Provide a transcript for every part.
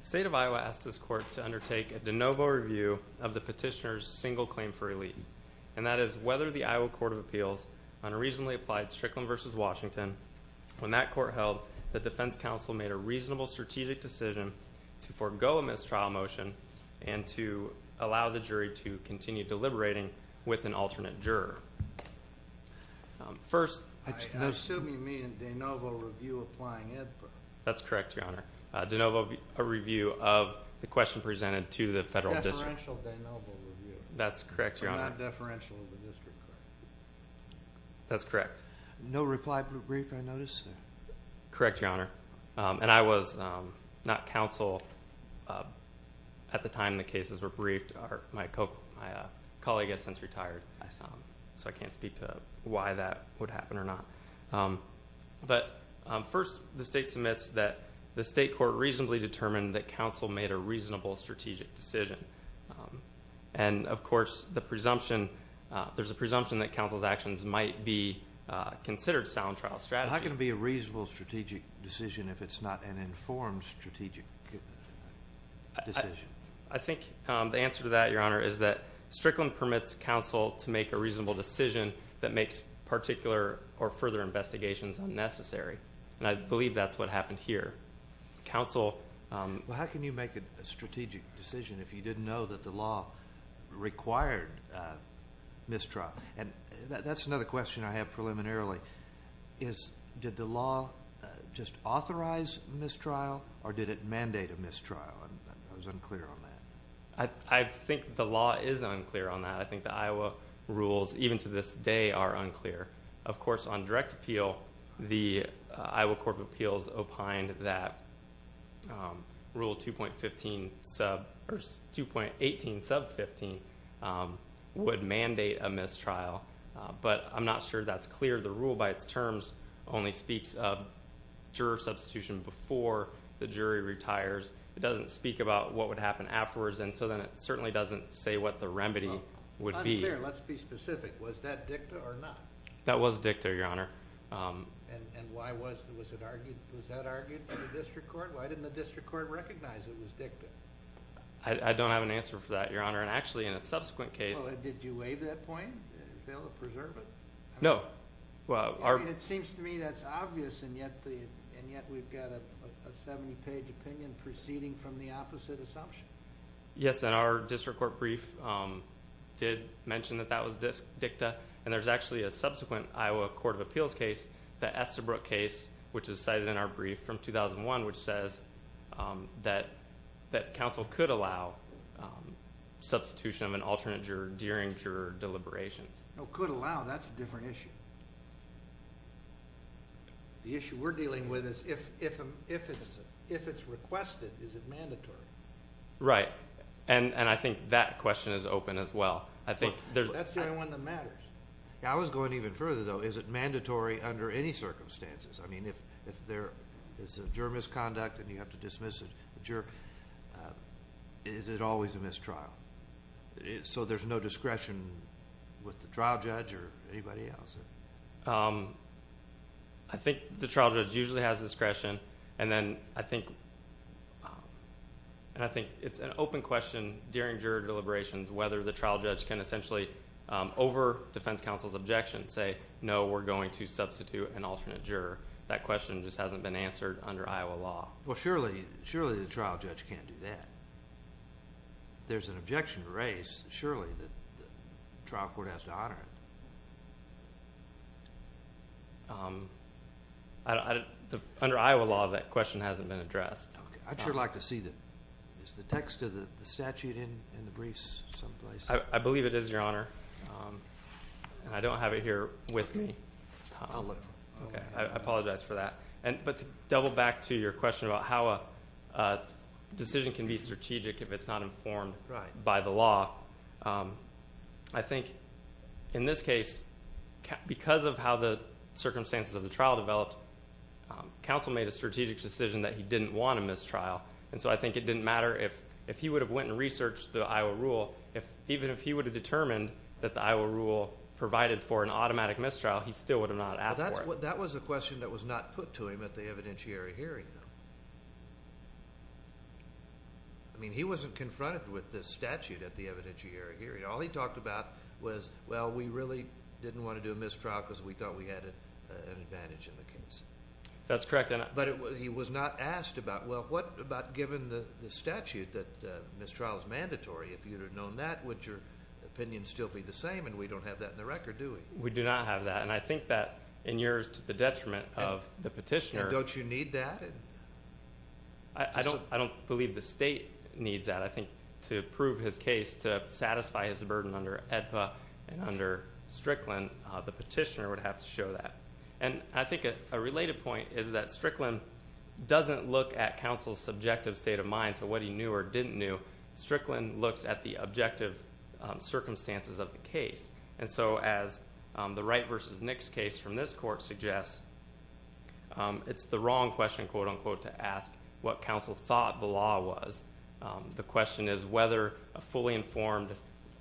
State of Iowa asked this court to undertake a de novo review of the petitioner's single claim for elite, and that is whether the Iowa Court of Appeals on a regionally applied Strickland v. Washington, when that court held, the defense counsel made a reasonable strategic decision to forgo a mistrial motion and to allow the jury to continue deliberating with an alternate juror. First, I assume you mean a de novo review applying Ed Burr? That's correct, Your Honor. A de novo review of the question presented to the federal district. A deferential de novo review. That's correct, Your Honor. So not a deferential of the district court. That's correct. No reply brief, I notice? Correct, Your Honor. And I was not counsel at the time the cases were briefed. My colleague has since retired, so I can't speak to why that would happen or not. But first, the state submits that the state court reasonably determined that counsel made a reasonable strategic decision. And of course, there's a presumption that counsel's actions might be considered sound trial strategy. How can it be a reasonable strategic decision if it's not an informed strategic decision? I think the answer to that, Your Honor, is that Strickland permits counsel to make a reasonable decision that makes particular or further investigations unnecessary. And I believe that's what happened here. Counsel... Well, how can you make a strategic decision if you didn't know that the law required mistrial? And that's another question I have preliminarily, is did the law just authorize mistrial or did it mandate a mistrial? I was unclear on that. I think the law is unclear on that. I think the Iowa rules, even to this day, are unclear. Of course, on direct appeal, the Iowa Court of Appeals opined that Rule 2.15 sub... Or 2.18 sub 15 would mandate a mistrial. But I'm not sure that's clear. The rule by its terms only speaks of juror substitution before the jury retires. It doesn't speak about what would happen afterwards. And so then it certainly doesn't say what the remedy would be. Well, unclear. Let's be specific. Was that dicta or not? That was dicta, Your Honor. And why was... Was that argued by the district court? Why didn't the district court recognize it was dicta? I don't have an answer for that, Your Honor. And actually, in a subsequent case... Well, did you waive that point? Fail to preserve it? No. Well, our... It seems to me that's obvious and yet we've got a 70-page opinion preserved. Yes, and our district court brief did mention that that was dicta. And there's actually a subsequent Iowa Court of Appeals case, the Estabrook case, which is cited in our brief from 2001, which says that counsel could allow substitution of an alternate juror during juror deliberations. No, could allow. That's a different issue. The issue we're dealing with is if it's requested, is it mandatory? Right. And I think that question is open as well. I think there's... That's the only one that matters. Yeah, I was going even further, though. Is it mandatory under any circumstances? I mean, if there is a juror misconduct and you have to dismiss the juror, is it always a mistrial? So there's no discretion with the trial judge or anybody else? I think the trial judge usually has discretion. And then I think it's an open question during juror deliberations whether the trial judge can essentially, over defense counsel's objection, say, no, we're going to substitute an alternate juror. That question just hasn't been answered under Iowa law. Well, surely the trial judge can't do that. There's an objection to race, surely, that the trial court has to honor it. Under Iowa law, that question hasn't been addressed. Okay. I'd sure like to see the... Is the text of the statute in the briefs someplace? I believe it is, Your Honor. And I don't have it here with me. I'll look for it. Okay. I apologize for that. But to double back to your question about how a decision can be strategic if it's not informed by the law, I think in this case, because of how the circumstances of the trial developed, counsel made a strategic decision that he didn't want a mistrial. And so I think it didn't matter if he would have went and researched the Iowa rule. Even if he would have determined that the Iowa rule provided for an automatic mistrial, he still would have not asked for it. That was a question that was not put to him at the evidentiary hearing, though. I mean, he wasn't confronted with this statute at the evidentiary hearing. All he talked about was, well, we really didn't want to do a mistrial because we thought we had an advantage in the case. That's correct. But he was not asked about, well, what about given the statute that mistrial is mandatory, if you would have known that, would your opinion still be the same? And we don't have that in the record, do we? We do not have that. And I think that in years to the detriment of the petitioner. And don't you need that? I don't believe the state needs that. I think to prove his case, to satisfy his burden under AEDPA and under Strickland, the petitioner would have to show that. And I think a related point is that Strickland doesn't look at counsel's subjective state of mind, so what he knew or didn't knew. Strickland looks at the objective circumstances of the case. And so as the Wright versus Nix case from this court suggests, it's the wrong question, quote, unquote, to ask what counsel thought the law was. The question is whether a fully informed,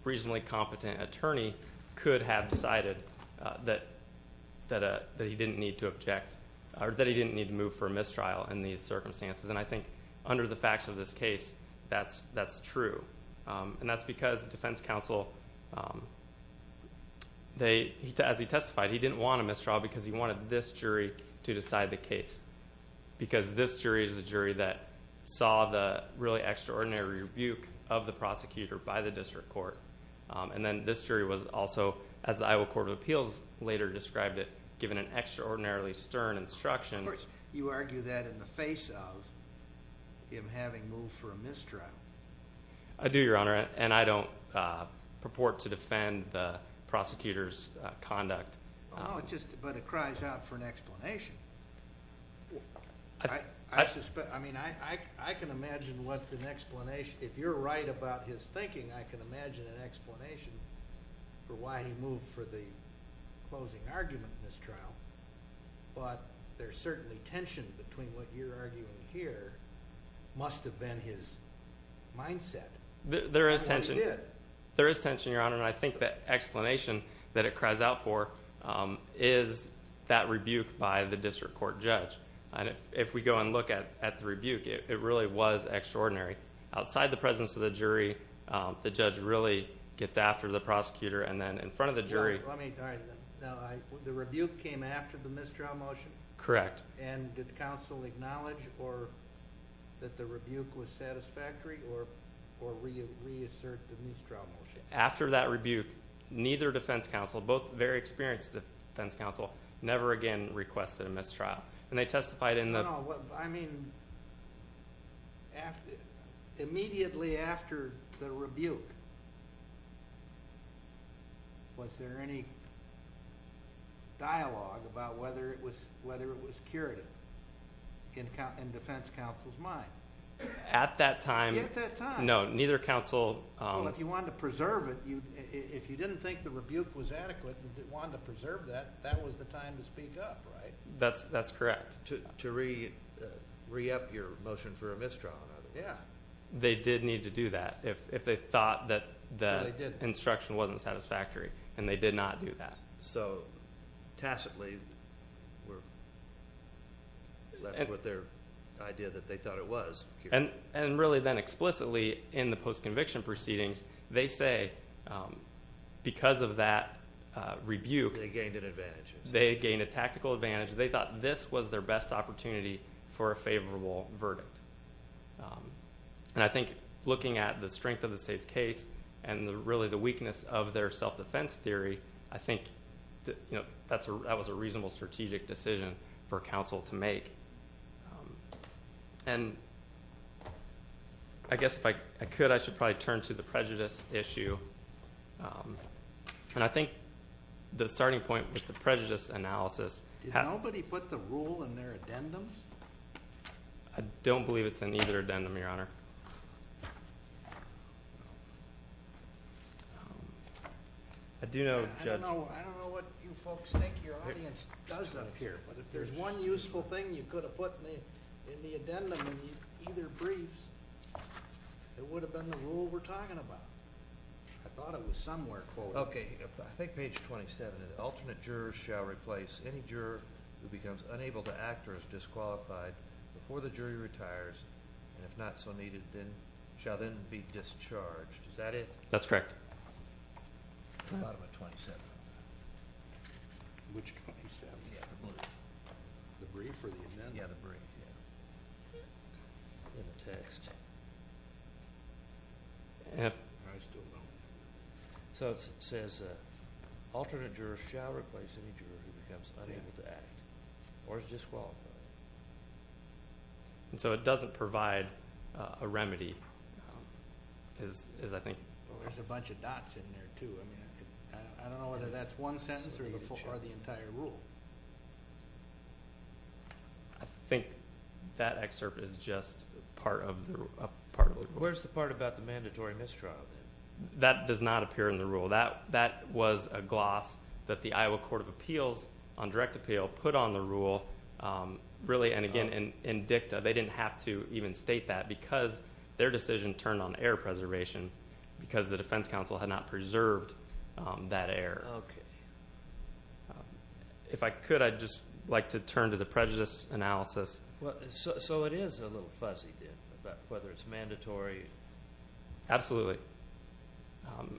reasonably competent attorney could have decided that he didn't need to move for a mistrial in these circumstances. And I think under the facts of this case, that's true. And that's because defense counsel, as he testified, he didn't want a mistrial because he wanted this jury to decide the case. Because this jury is the jury that saw the really extraordinary rebuke of the prosecutor by the district court. And then this jury was also, as the Iowa Court of Appeals later described it, given an extraordinarily stern instruction. Of course, you argue that in the face of him having moved for a mistrial. I do, Your Honor, and I don't purport to defend the prosecutor's conduct. But it cries out for an explanation. I mean, I can imagine what an explanation, if you're right about his thinking, I can imagine an explanation for why he moved for the closing argument mistrial. But there's certainly tension between what you're arguing here must have been his mindset. There is tension, Your Honor. And I think that explanation that it cries out for is that rebuke by the district court judge. And if we go and look at the rebuke, it really was extraordinary. Outside the presence of the jury, the judge really gets after the prosecutor. Now, the rebuke came after the mistrial motion? Correct. And did counsel acknowledge that the rebuke was satisfactory or reassert the mistrial motion? After that rebuke, neither defense counsel, both very experienced defense counsel, never again requested a mistrial. No, I mean, immediately after the rebuke, was there any dialogue about whether it was curative in defense counsel's mind? At that time, no. Well, if you wanted to preserve it, if you didn't think the rebuke was adequate and wanted to preserve that, that was the time to speak up, right? That's correct. To re-up your motion for a mistrial, in other words. Yeah. They did need to do that if they thought that the instruction wasn't satisfactory, and they did not do that. So tacitly left with their idea that they thought it was. And really then explicitly in the post-conviction proceedings, they say because of that rebuke. They gained an advantage. They gained a tactical advantage. They thought this was their best opportunity for a favorable verdict. And I think looking at the strength of the state's case and really the weakness of their self-defense theory, I think that was a reasonable strategic decision for counsel to make. And I guess if I could, I should probably turn to the prejudice issue. And I think the starting point with the prejudice analysis. Did nobody put the rule in their addendums? I don't believe it's in either addendum, Your Honor. I don't know what you folks think your audience does up here, but if there's one useful thing you could have put in the addendum in either briefs, it would have been the rule we're talking about. I thought it was somewhere quoted. Okay. I think page 27. An alternate juror shall replace any juror who becomes unable to act or is disqualified before the jury retires, and if not so needed, shall then be discharged. Is that it? That's correct. Bottom of 27. Which 27? Yeah, the brief. The brief or the amendment? Yeah, the brief. In the text. I still don't know. So it says, alternate juror shall replace any juror who becomes unable to act or is disqualified. And so it doesn't provide a remedy, is I think. There's a bunch of dots in there, too. I don't know whether that's one sentence or the entire rule. Where's the part about the mandatory mistrial? That does not appear in the rule. That was a gloss that the Iowa Court of Appeals on direct appeal put on the rule. Really, and again, in dicta, they didn't have to even state that because their decision turned on error preservation because the defense counsel had not preserved that error. Okay. If I could, I'd just like to turn to the prejudice analysis. So it is a little fuzzy, whether it's mandatory. Absolutely.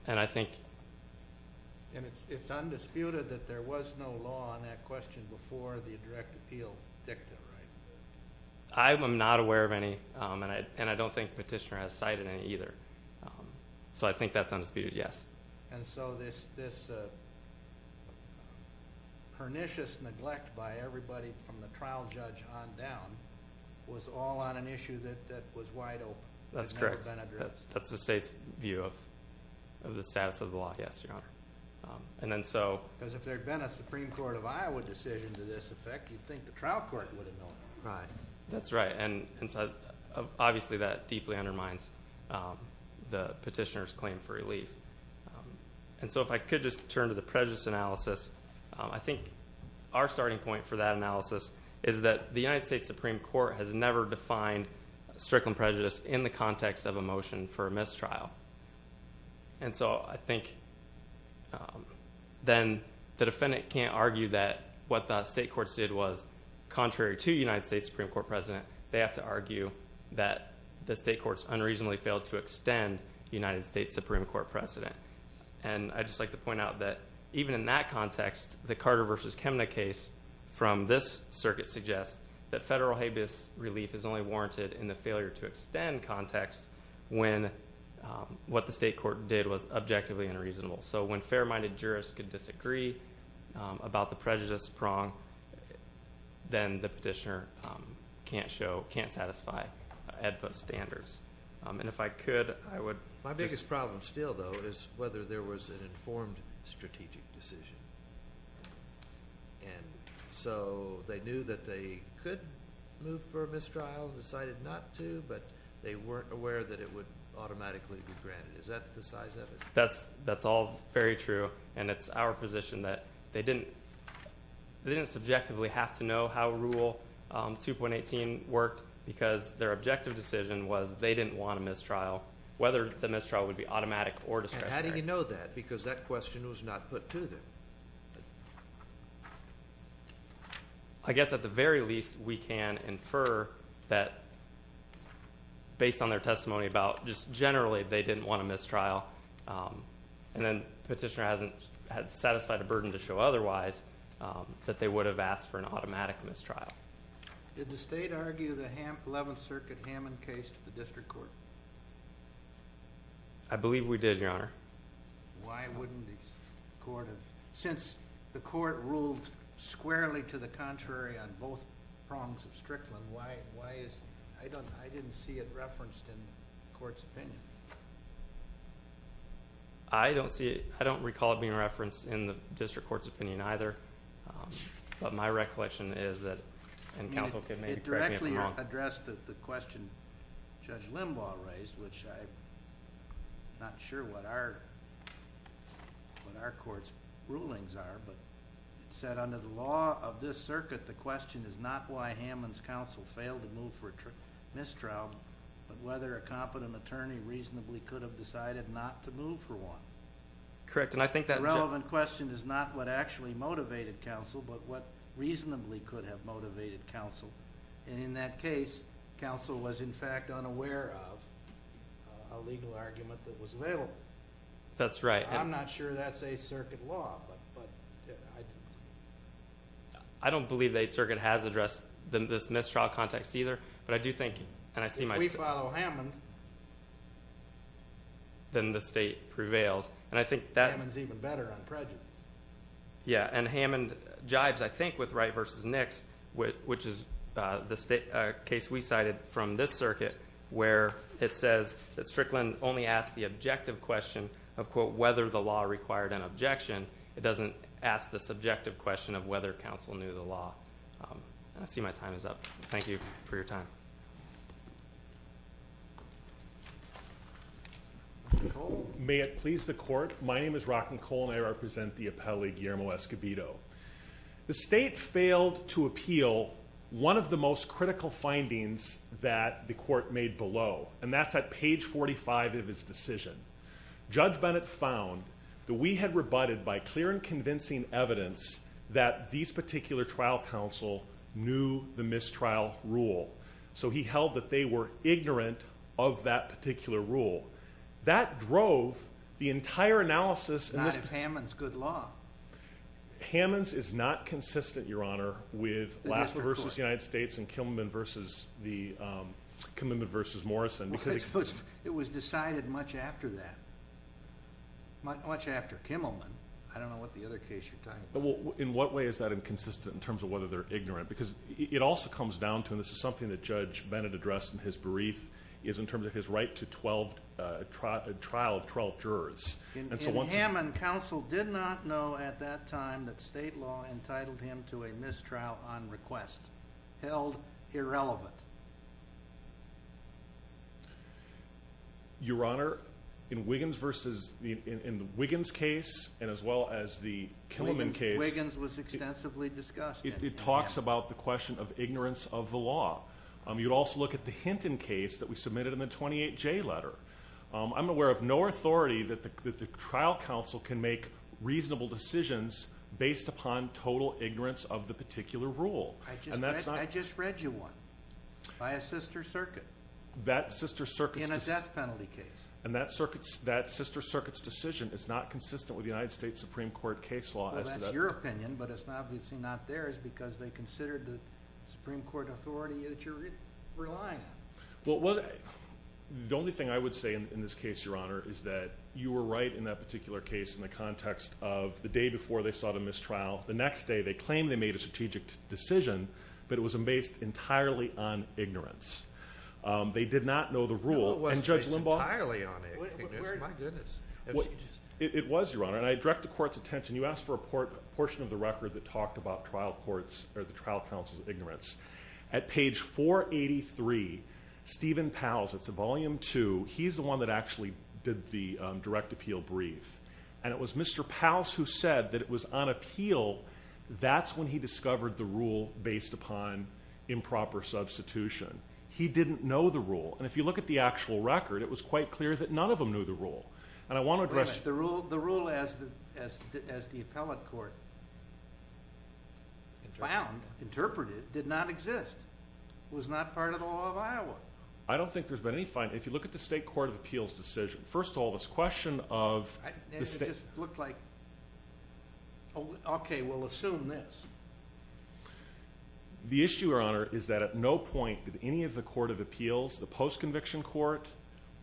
And it's undisputed that there was no law on that question before the direct appeal dicta, right? I am not aware of any, and I don't think Petitioner has cited any either. So I think that's undisputed, yes. And so this pernicious neglect by everybody from the trial judge on down was all on an issue that was wide open. That's correct. That's the state's view of the status of the law, yes, Your Honor. Because if there had been a Supreme Court of Iowa decision to this effect, you'd think the trial court would have known. Right. That's right. Obviously, that deeply undermines the petitioner's claim for relief. And so if I could just turn to the prejudice analysis, I think our starting point for that analysis is that the United States Supreme Court has never defined strickland prejudice in the context of a motion for a mistrial. And so I think then the defendant can't argue that what the state courts did was contrary to United States Supreme Court precedent. They have to argue that the state courts unreasonably failed to extend United States Supreme Court precedent. And I'd just like to point out that even in that context, the Carter v. Chemnitz case from this circuit suggests that federal habeas relief is only warranted in the failure to extend context when what the state court did was objectively unreasonable. So when fair-minded jurists could disagree about the prejudice prong, then the petitioner can't show, can't satisfy AEDPA standards. And if I could, I would. My biggest problem still, though, is whether there was an informed strategic decision. And so they knew that they could move for a mistrial, decided not to, but they weren't aware that it would automatically be granted. Is that the size of it? That's all very true, and it's our position that they didn't subjectively have to know how Rule 2.18 worked because their objective decision was they didn't want a mistrial, whether the mistrial would be automatic or discretionary. And how do you know that? Because that question was not put to them. I guess at the very least, we can infer that based on their testimony about just generally they didn't want a mistrial, and then the petitioner hasn't satisfied a burden to show otherwise, that they would have asked for an automatic mistrial. Did the state argue the 11th Circuit Hammond case to the district court? Why wouldn't the court have? Since the court ruled squarely to the contrary on both prongs of Strickland, why is... I didn't see it referenced in the court's opinion. I don't recall it being referenced in the district court's opinion either. But my recollection is that, and counsel can maybe correct me if I'm wrong. You addressed the question Judge Limbaugh raised, which I'm not sure what our court's rulings are, but it said under the law of this circuit, the question is not why Hammond's counsel failed to move for a mistrial, but whether a competent attorney reasonably could have decided not to move for one. Correct, and I think that... The relevant question is not what actually motivated counsel, but what reasonably could have motivated counsel. And in that case, counsel was in fact unaware of a legal argument that was available. That's right. I'm not sure that's 8th Circuit law, but... I don't believe the 8th Circuit has addressed this mistrial context either, but I do think... If we follow Hammond... Then the state prevails, and I think that... Hammond's even better on prejudice. Yeah, and Hammond jives, I think, with Wright v. Nix, which is the case we cited from this circuit, where it says that Strickland only asked the objective question of, quote, whether the law required an objection. It doesn't ask the subjective question of whether counsel knew the law. I see my time is up. Thank you for your time. Mr. Cole? May it please the court, my name is Rockin' Cole, and I represent the appellee Guillermo Escobedo. The state failed to appeal one of the most critical findings that the court made below, and that's at page 45 of his decision. Judge Bennett found that we had rebutted by clear and convincing evidence that this particular trial counsel knew the mistrial rule, so he held that they were ignorant of that particular rule. That drove the entire analysis... Not if Hammond's good law. Hammond's is not consistent, Your Honor, with Lasswell v. United States and Kimmelman v. Morrison because... It was decided much after that, much after Kimmelman. I don't know what the other case you're talking about. In what way is that inconsistent in terms of whether they're ignorant? Because it also comes down to, and this is something that Judge Bennett addressed in his brief, is in terms of his right to trial of 12 jurors. In Hammond, counsel did not know at that time that state law entitled him to a mistrial on request. Held irrelevant. Your Honor, in the Wiggins case and as well as the Kimmelman case... Wiggins was extensively discussed. It talks about the question of ignorance of the law. You'd also look at the Hinton case that we submitted in the 28J letter. I'm aware of no authority that the trial counsel can make reasonable decisions based upon total ignorance of the particular rule. I just read you one by a sister circuit. That sister circuit's... In a death penalty case. And that sister circuit's decision is not consistent with the United States Supreme Court case law. Well, that's your opinion, but it's obviously not theirs because they considered the Supreme Court authority that you're relying on. Well, the only thing I would say in this case, Your Honor, is that you were right in that particular case in the context of the day before they sought a mistrial. The next day they claimed they made a strategic decision, but it was based entirely on ignorance. They did not know the rule. No, it wasn't based entirely on ignorance. My goodness. It was, Your Honor, and I direct the Court's attention. You asked for a portion of the record that talked about trial courts or the trial counsel's ignorance. At page 483, Stephen Pals, it's a volume two, he's the one that actually did the direct appeal brief. And it was Mr. Pals who said that it was on appeal, that's when he discovered the rule based upon improper substitution. He didn't know the rule. And if you look at the actual record, it was quite clear that none of them knew the rule. Wait a minute. The rule as the appellate court found, interpreted, did not exist. It was not part of the law of Iowa. I don't think there's been any finding. If you look at the state court of appeals decision, first of all, this question of the state. And it just looked like, okay, we'll assume this. The issue, Your Honor, is that at no point did any of the court of appeals, the post-conviction court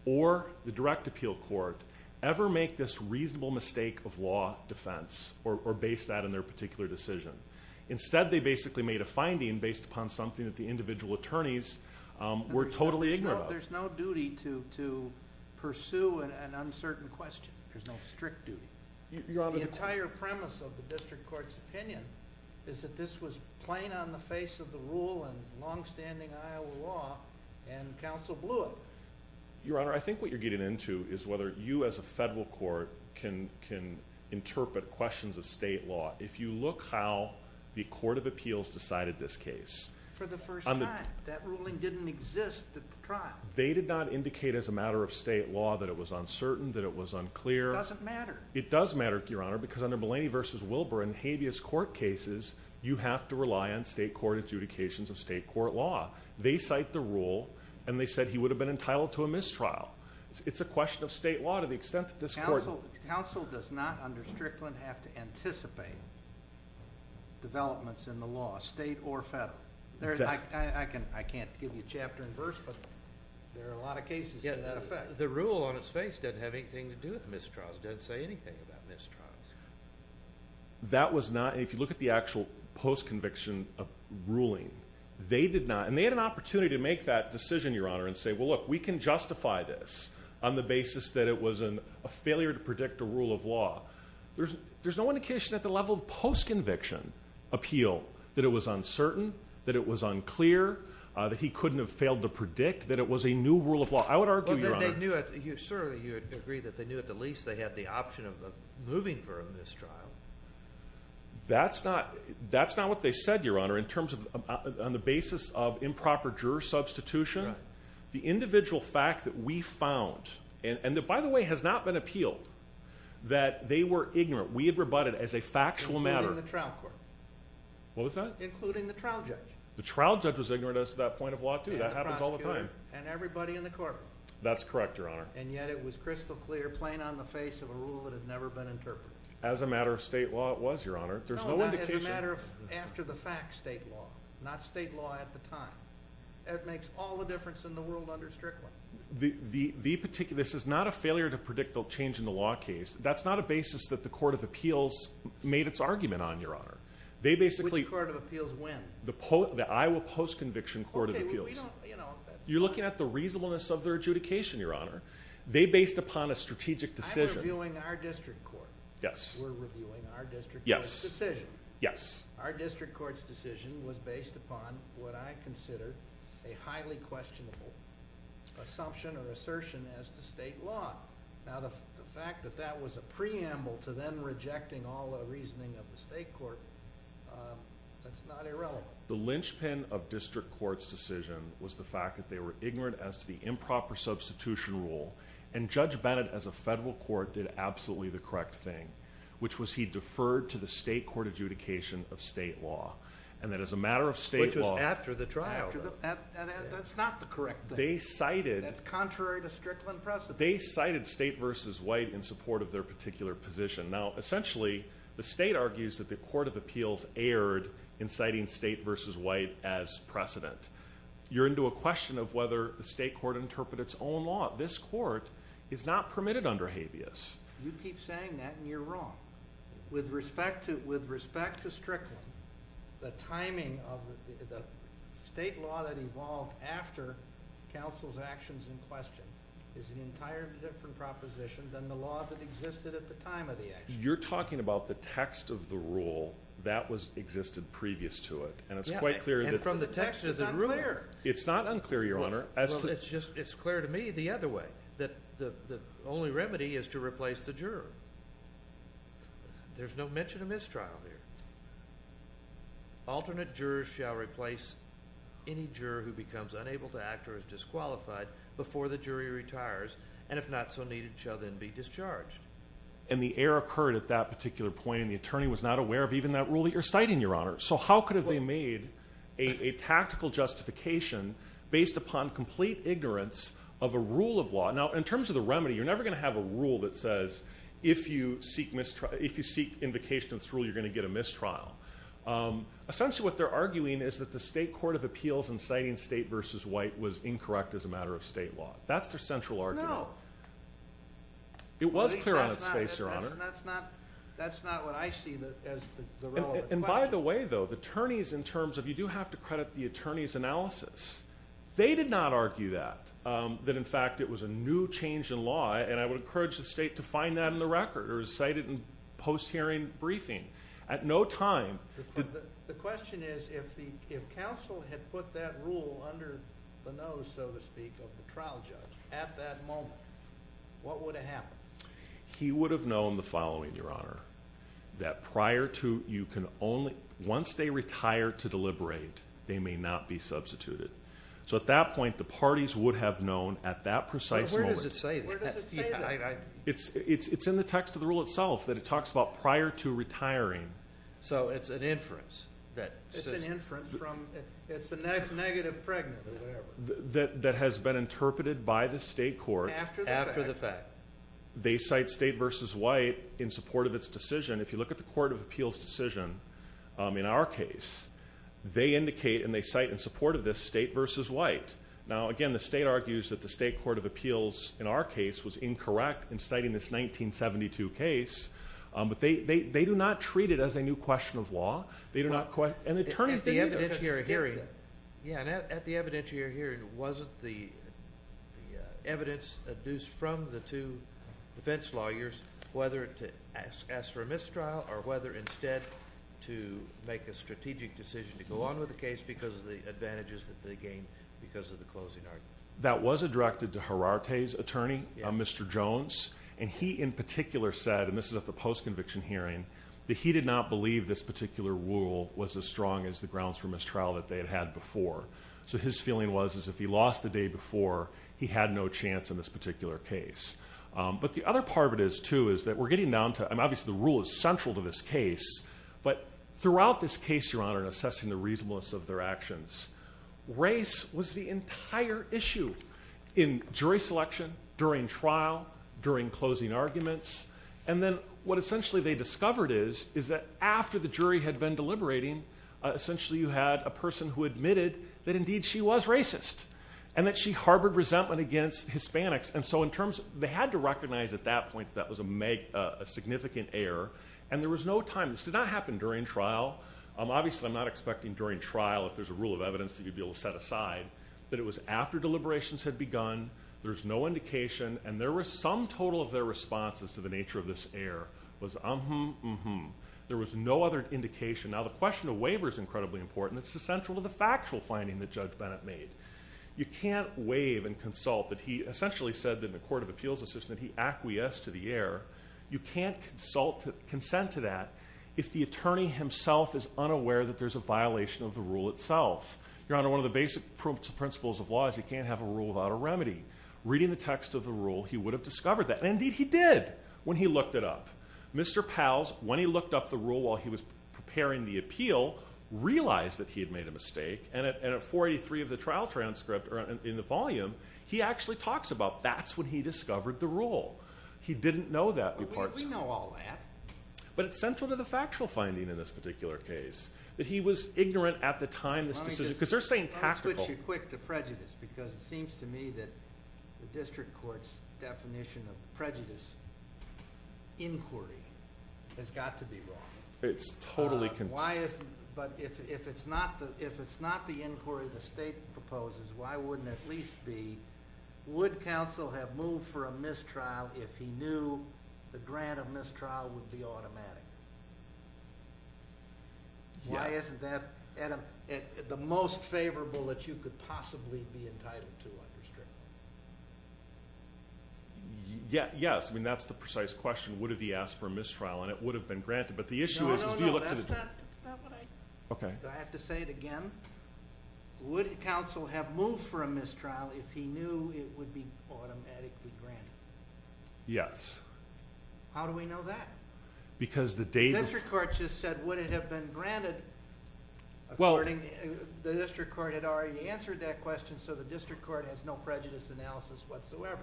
or the direct appeal court, ever make this reasonable mistake of law defense or base that in their particular decision. Instead, they basically made a finding based upon something that the individual attorneys were totally ignorant of. There's no duty to pursue an uncertain question. There's no strict duty. The entire premise of the district court's opinion is that this was plain on the face of the rule and longstanding Iowa law, and counsel blew it. Your Honor, I think what you're getting into is whether you as a federal court can interpret questions of state law. If you look how the court of appeals decided this case. For the first time. That ruling didn't exist at the trial. They did not indicate as a matter of state law that it was uncertain, that it was unclear. It doesn't matter. It does matter, Your Honor, because under Mulaney v. Wilbur and habeas court cases, you have to rely on state court adjudications of state court law. They cite the rule, and they said he would have been entitled to a mistrial. It's a question of state law to the extent that this court. Counsel does not under Strickland have to anticipate developments in the law, state or federal. I can't give you chapter and verse, but there are a lot of cases to that effect. The rule on its face doesn't have anything to do with mistrials. It doesn't say anything about mistrials. That was not. If you look at the actual post-conviction ruling, they did not. And they had an opportunity to make that decision, Your Honor, and say, well, look, we can justify this on the basis that it was a failure to predict a rule of law. There's no indication at the level of post-conviction appeal that it was uncertain, that it was unclear, that he couldn't have failed to predict, that it was a new rule of law. I would argue, Your Honor. But they knew at the least they had the option of moving for a mistrial. That's not what they said, Your Honor, in terms of on the basis of improper juror substitution. The individual fact that we found, and by the way, has not been appealed, that they were ignorant. We had rebutted as a factual matter. Including the trial court. What was that? Including the trial judge. The trial judge was ignorant as to that point of law, too. That happens all the time. And everybody in the courtroom. That's correct, Your Honor. And yet it was crystal clear, plain on the face of a rule that had never been interpreted. As a matter of state law, it was, Your Honor. No, not as a matter of after the fact state law. Not state law at the time. That makes all the difference in the world under Strickland. This is not a failure to predict a change in the law case. That's not a basis that the Court of Appeals made its argument on, Your Honor. Which Court of Appeals, when? The Iowa Post-Conviction Court of Appeals. You're looking at the reasonableness of their adjudication, Your Honor. They based upon a strategic decision. I'm reviewing our district court. Yes. We're reviewing our district court's decision. Yes. Our district court's decision was based upon what I consider a highly questionable assumption or assertion as to state law. Now, the fact that that was a preamble to then rejecting all the reasoning of the state court, that's not irrelevant. The linchpin of district court's decision was the fact that they were ignorant as to the improper substitution rule, and Judge Bennett, as a federal court, did absolutely the correct thing, which was he deferred to the state court adjudication of state law, and that as a matter of state law— Which was after the trial. That's not the correct thing. They cited— That's contrary to Strickland precedent. They cited state versus white in support of their particular position. Now, essentially, the state argues that the court of appeals erred in citing state versus white as precedent. You're into a question of whether the state court interpreted its own law. This court is not permitted under habeas. You keep saying that, and you're wrong. With respect to Strickland, the timing of the state law that evolved after counsel's actions in question is an entirely different proposition than the law that existed at the time of the action. You're talking about the text of the rule that existed previous to it, and it's quite clear that— Yeah, and from the text of the rule. It's not unclear, Your Honor. Well, it's clear to me the other way, that the only remedy is to replace the juror. There's no mention of mistrial here. Alternate jurors shall replace any juror who becomes unable to act or is disqualified before the jury retires, and if not so needed, shall then be discharged. And the error occurred at that particular point, and the attorney was not aware of even that rule that you're citing, Your Honor. So how could they have made a tactical justification based upon complete ignorance of a rule of law? Now, in terms of the remedy, you're never going to have a rule that says if you seek invocation of this rule, you're going to get a mistrial. Essentially what they're arguing is that the state court of appeals in citing state versus white was incorrect as a matter of state law. That's their central argument. No. It was clear on its face, Your Honor. That's not what I see as the relevant question. And by the way, though, the attorneys in terms of you do have to credit the attorney's analysis, they did not argue that, that in fact it was a new change in law, and I would encourage the state to find that in the record or cite it in post-hearing briefing. At no time. The question is if counsel had put that rule under the nose, so to speak, of the trial judge at that moment, what would have happened? He would have known the following, Your Honor, that prior to you can only, once they retire to deliberate, they may not be substituted. So at that point, the parties would have known at that precise moment. Where does it say that? It's in the text of the rule itself that it talks about prior to retiring. So it's an inference that says. It's an inference from, it's a negative pregnant or whatever. That has been interpreted by the state court. After the fact. They cite state versus white in support of its decision. If you look at the Court of Appeals decision in our case, they indicate and they cite in support of this state versus white. Now, again, the state argues that the state court of appeals in our case was incorrect in citing this 1972 case. But they do not treat it as a new question of law. They do not, and the attorneys didn't either. At the evidentiary hearing. Yeah, and at the evidentiary hearing, wasn't the evidence adduced from the two defense lawyers, whether to ask for a mistrial or whether instead to make a strategic decision to go on with the case because of the advantages that they gained because of the closing argument? That was directed to Herarte's attorney, Mr. Jones. And he in particular said, and this is at the post-conviction hearing, that he did not believe this particular rule was as strong as the grounds for mistrial that they had had before. So his feeling was, is if he lost the day before, he had no chance in this particular case. But the other part of it is, too, is that we're getting down to, and obviously the rule is central to this case, but throughout this case, Your Honor, in assessing the reasonableness of their actions, race was the entire issue in jury selection, during trial, during closing arguments. And then what essentially they discovered is, is that after the jury had been deliberating, essentially you had a person who admitted that indeed she was racist and that she harbored resentment against Hispanics. And so in terms, they had to recognize at that point that that was a significant error, and there was no time. This did not happen during trial. Obviously, I'm not expecting during trial, if there's a rule of evidence that you'd be able to set aside, that it was after deliberations had begun, there's no indication, and there was some total of their responses to the nature of this error was, um-hum, um-hum. There was no other indication. Now, the question of waiver is incredibly important. It's essential to the factual finding that Judge Bennett made. You can't waive and consult. But he essentially said that in a court of appeals decision that he acquiesced to the error. You can't consult, consent to that if the attorney himself is unaware that there's a violation of the rule itself. Your Honor, one of the basic principles of law is you can't have a rule without a remedy. Reading the text of the rule, he would have discovered that. And indeed he did when he looked it up. Mr. Pals, when he looked up the rule while he was preparing the appeal, realized that he had made a mistake. And at 483 of the trial transcript, or in the volume, he actually talks about that's when he discovered the rule. He didn't know that. We know all that. But it's central to the factual finding in this particular case. That he was ignorant at the time of this decision. Because they're saying tactical. Let me switch you quick to prejudice because it seems to me that the district court's definition of prejudice inquiry has got to be wrong. It's totally cont— But if it's not the inquiry the state proposes, why wouldn't it at least be, would counsel have moved for a mistrial if he knew the grant of mistrial would be automatic? Why isn't that the most favorable that you could possibly be entitled to under strict law? Yes. I mean, that's the precise question. Would have he asked for a mistrial? And it would have been granted. No, no, no. That's not what I— Okay. Do I have to say it again? Would counsel have moved for a mistrial if he knew it would be automatically granted? Yes. How do we know that? Because the data— The district court just said would it have been granted? Well— The district court had already answered that question, so the district court has no prejudice analysis whatsoever.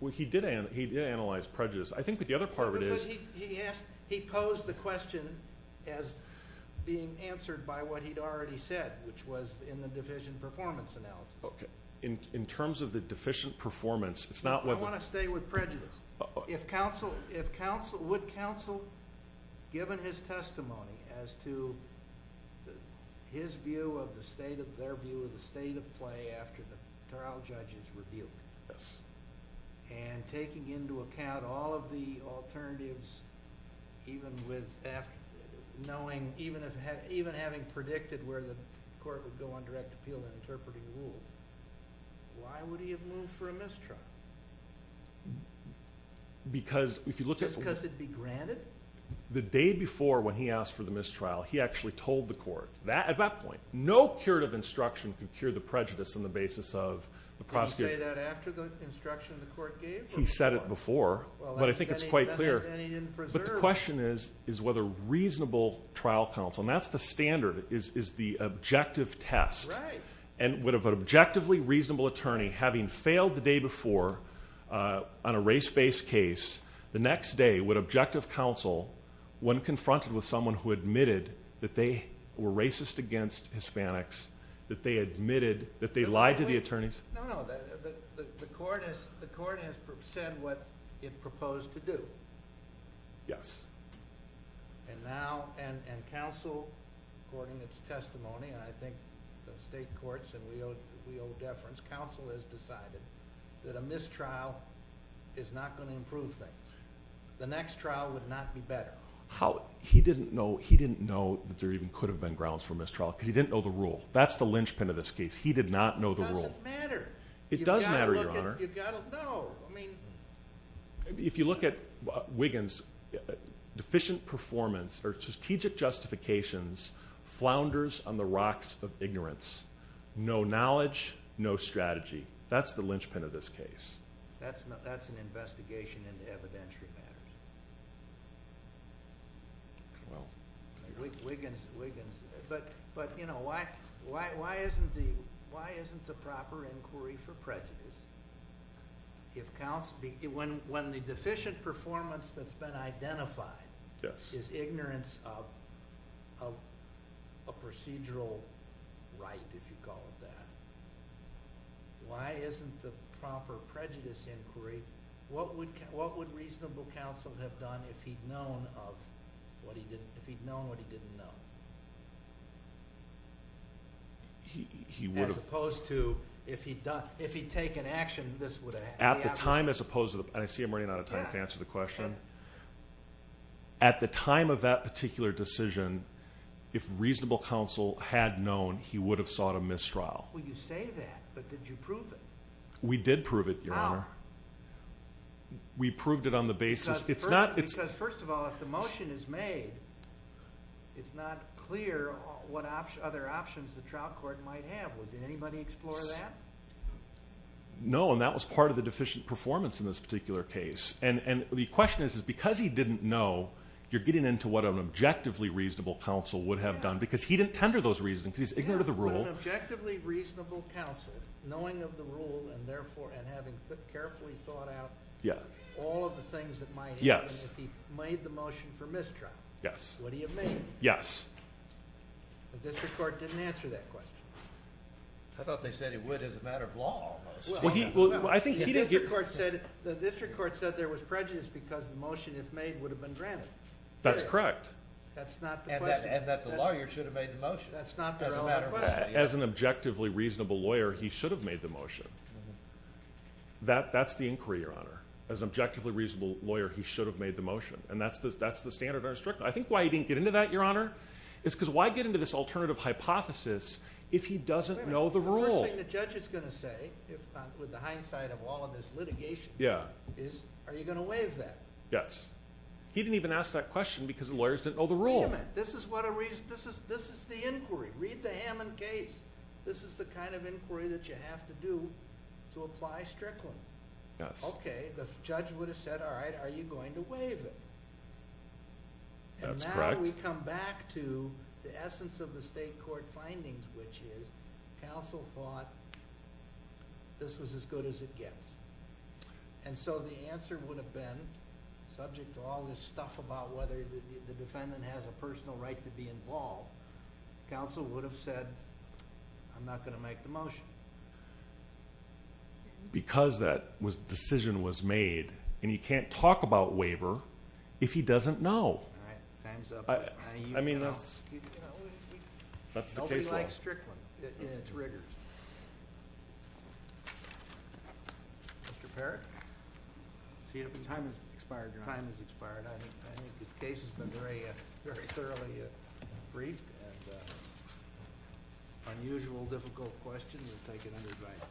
Well, he did analyze prejudice. I think that the other part of it is— Because he posed the question as being answered by what he'd already said, which was in the deficient performance analysis. Okay. In terms of the deficient performance, it's not whether— I want to stay with prejudice. If counsel—would counsel, given his testimony as to his view of the state of, their view of the state of play after the trial judge's rebuke, and taking into account all of the alternatives, even with knowing—even having predicted where the court would go on direct appeal and interpreting rule, why would he have moved for a mistrial? Because if you look at— Just because it'd be granted? The day before when he asked for the mistrial, he actually told the court. At that point, no curative instruction could cure the prejudice on the basis of the prosecutor— Did he say that after the instruction the court gave? He said it before, but I think it's quite clear. Then he didn't preserve it. But the question is whether reasonable trial counsel—and that's the standard, is the objective test. Right. And would an objectively reasonable attorney, having failed the day before on a race-based case, the next day would objective counsel, when confronted with someone who admitted that they were racist against Hispanics, that they admitted that they lied to the attorneys? No, no. The court has said what it proposed to do. And now—and counsel, according to its testimony, and I think the state courts and we owe deference, counsel has decided that a mistrial is not going to improve things. The next trial would not be better. He didn't know that there even could have been grounds for mistrial because he didn't know the rule. That's the linchpin of this case. He did not know the rule. It doesn't matter. It does matter, Your Honor. You've got to look at—you've got to know. I mean— If you look at Wiggins, deficient performance or strategic justifications flounders on the rocks of ignorance. No knowledge, no strategy. That's the linchpin of this case. That's an investigation into evidentiary matters. Wiggins, Wiggins. But, you know, why isn't the proper inquiry for prejudice if counsel— when the deficient performance that's been identified is ignorance of a procedural right, if you call it that, why isn't the proper prejudice inquiry— What would reasonable counsel have done if he'd known what he didn't know? He would have— As opposed to if he'd taken action, this would have— At the time, as opposed to—and I see I'm running out of time to answer the question. At the time of that particular decision, if reasonable counsel had known, he would have sought a mistrial. Well, you say that, but did you prove it? We did prove it, Your Honor. How? We proved it on the basis— Because, first of all, if the motion is made, it's not clear what other options the trial court might have. Did anybody explore that? No, and that was part of the deficient performance in this particular case. And the question is because he didn't know, you're getting into what an objectively reasonable counsel would have done because he didn't tender those reasons because he's ignorant of the rule. An objectively reasonable counsel, knowing of the rule and therefore—and having carefully thought out all of the things that might happen if he made the motion for mistrial. Yes. Would he have made it? Yes. The district court didn't answer that question. I thought they said he would as a matter of law, almost. Well, I think he did— The district court said there was prejudice because the motion, if made, would have been granted. That's correct. That's not the question. And that the lawyer should have made the motion. That's not their only question. As an objectively reasonable lawyer, he should have made the motion. That's the inquiry, Your Honor. As an objectively reasonable lawyer, he should have made the motion. And that's the standard of our district. I think why he didn't get into that, Your Honor, is because why get into this alternative hypothesis if he doesn't know the rule? The first thing the judge is going to say, with the hindsight of all of this litigation, is are you going to waive that? Yes. This is the inquiry. Read the Hammond case. This is the kind of inquiry that you have to do to apply Strickland. Yes. Okay. The judge would have said, all right, are you going to waive it? That's correct. And now we come back to the essence of the state court findings, which is counsel thought this was as good as it gets. And so the answer would have been, subject to all this stuff about whether the defendant has a personal right to be involved, counsel would have said, I'm not going to make the motion. Because that decision was made, and he can't talk about waiver if he doesn't know. All right. Time's up. I mean, that's the case law. Nobody likes Strickland in its rigors. Mr. Parrott? Time has expired, Your Honor. Time has expired. I think the case has been very thoroughly briefed. And unusual, difficult question. We'll take it under writing.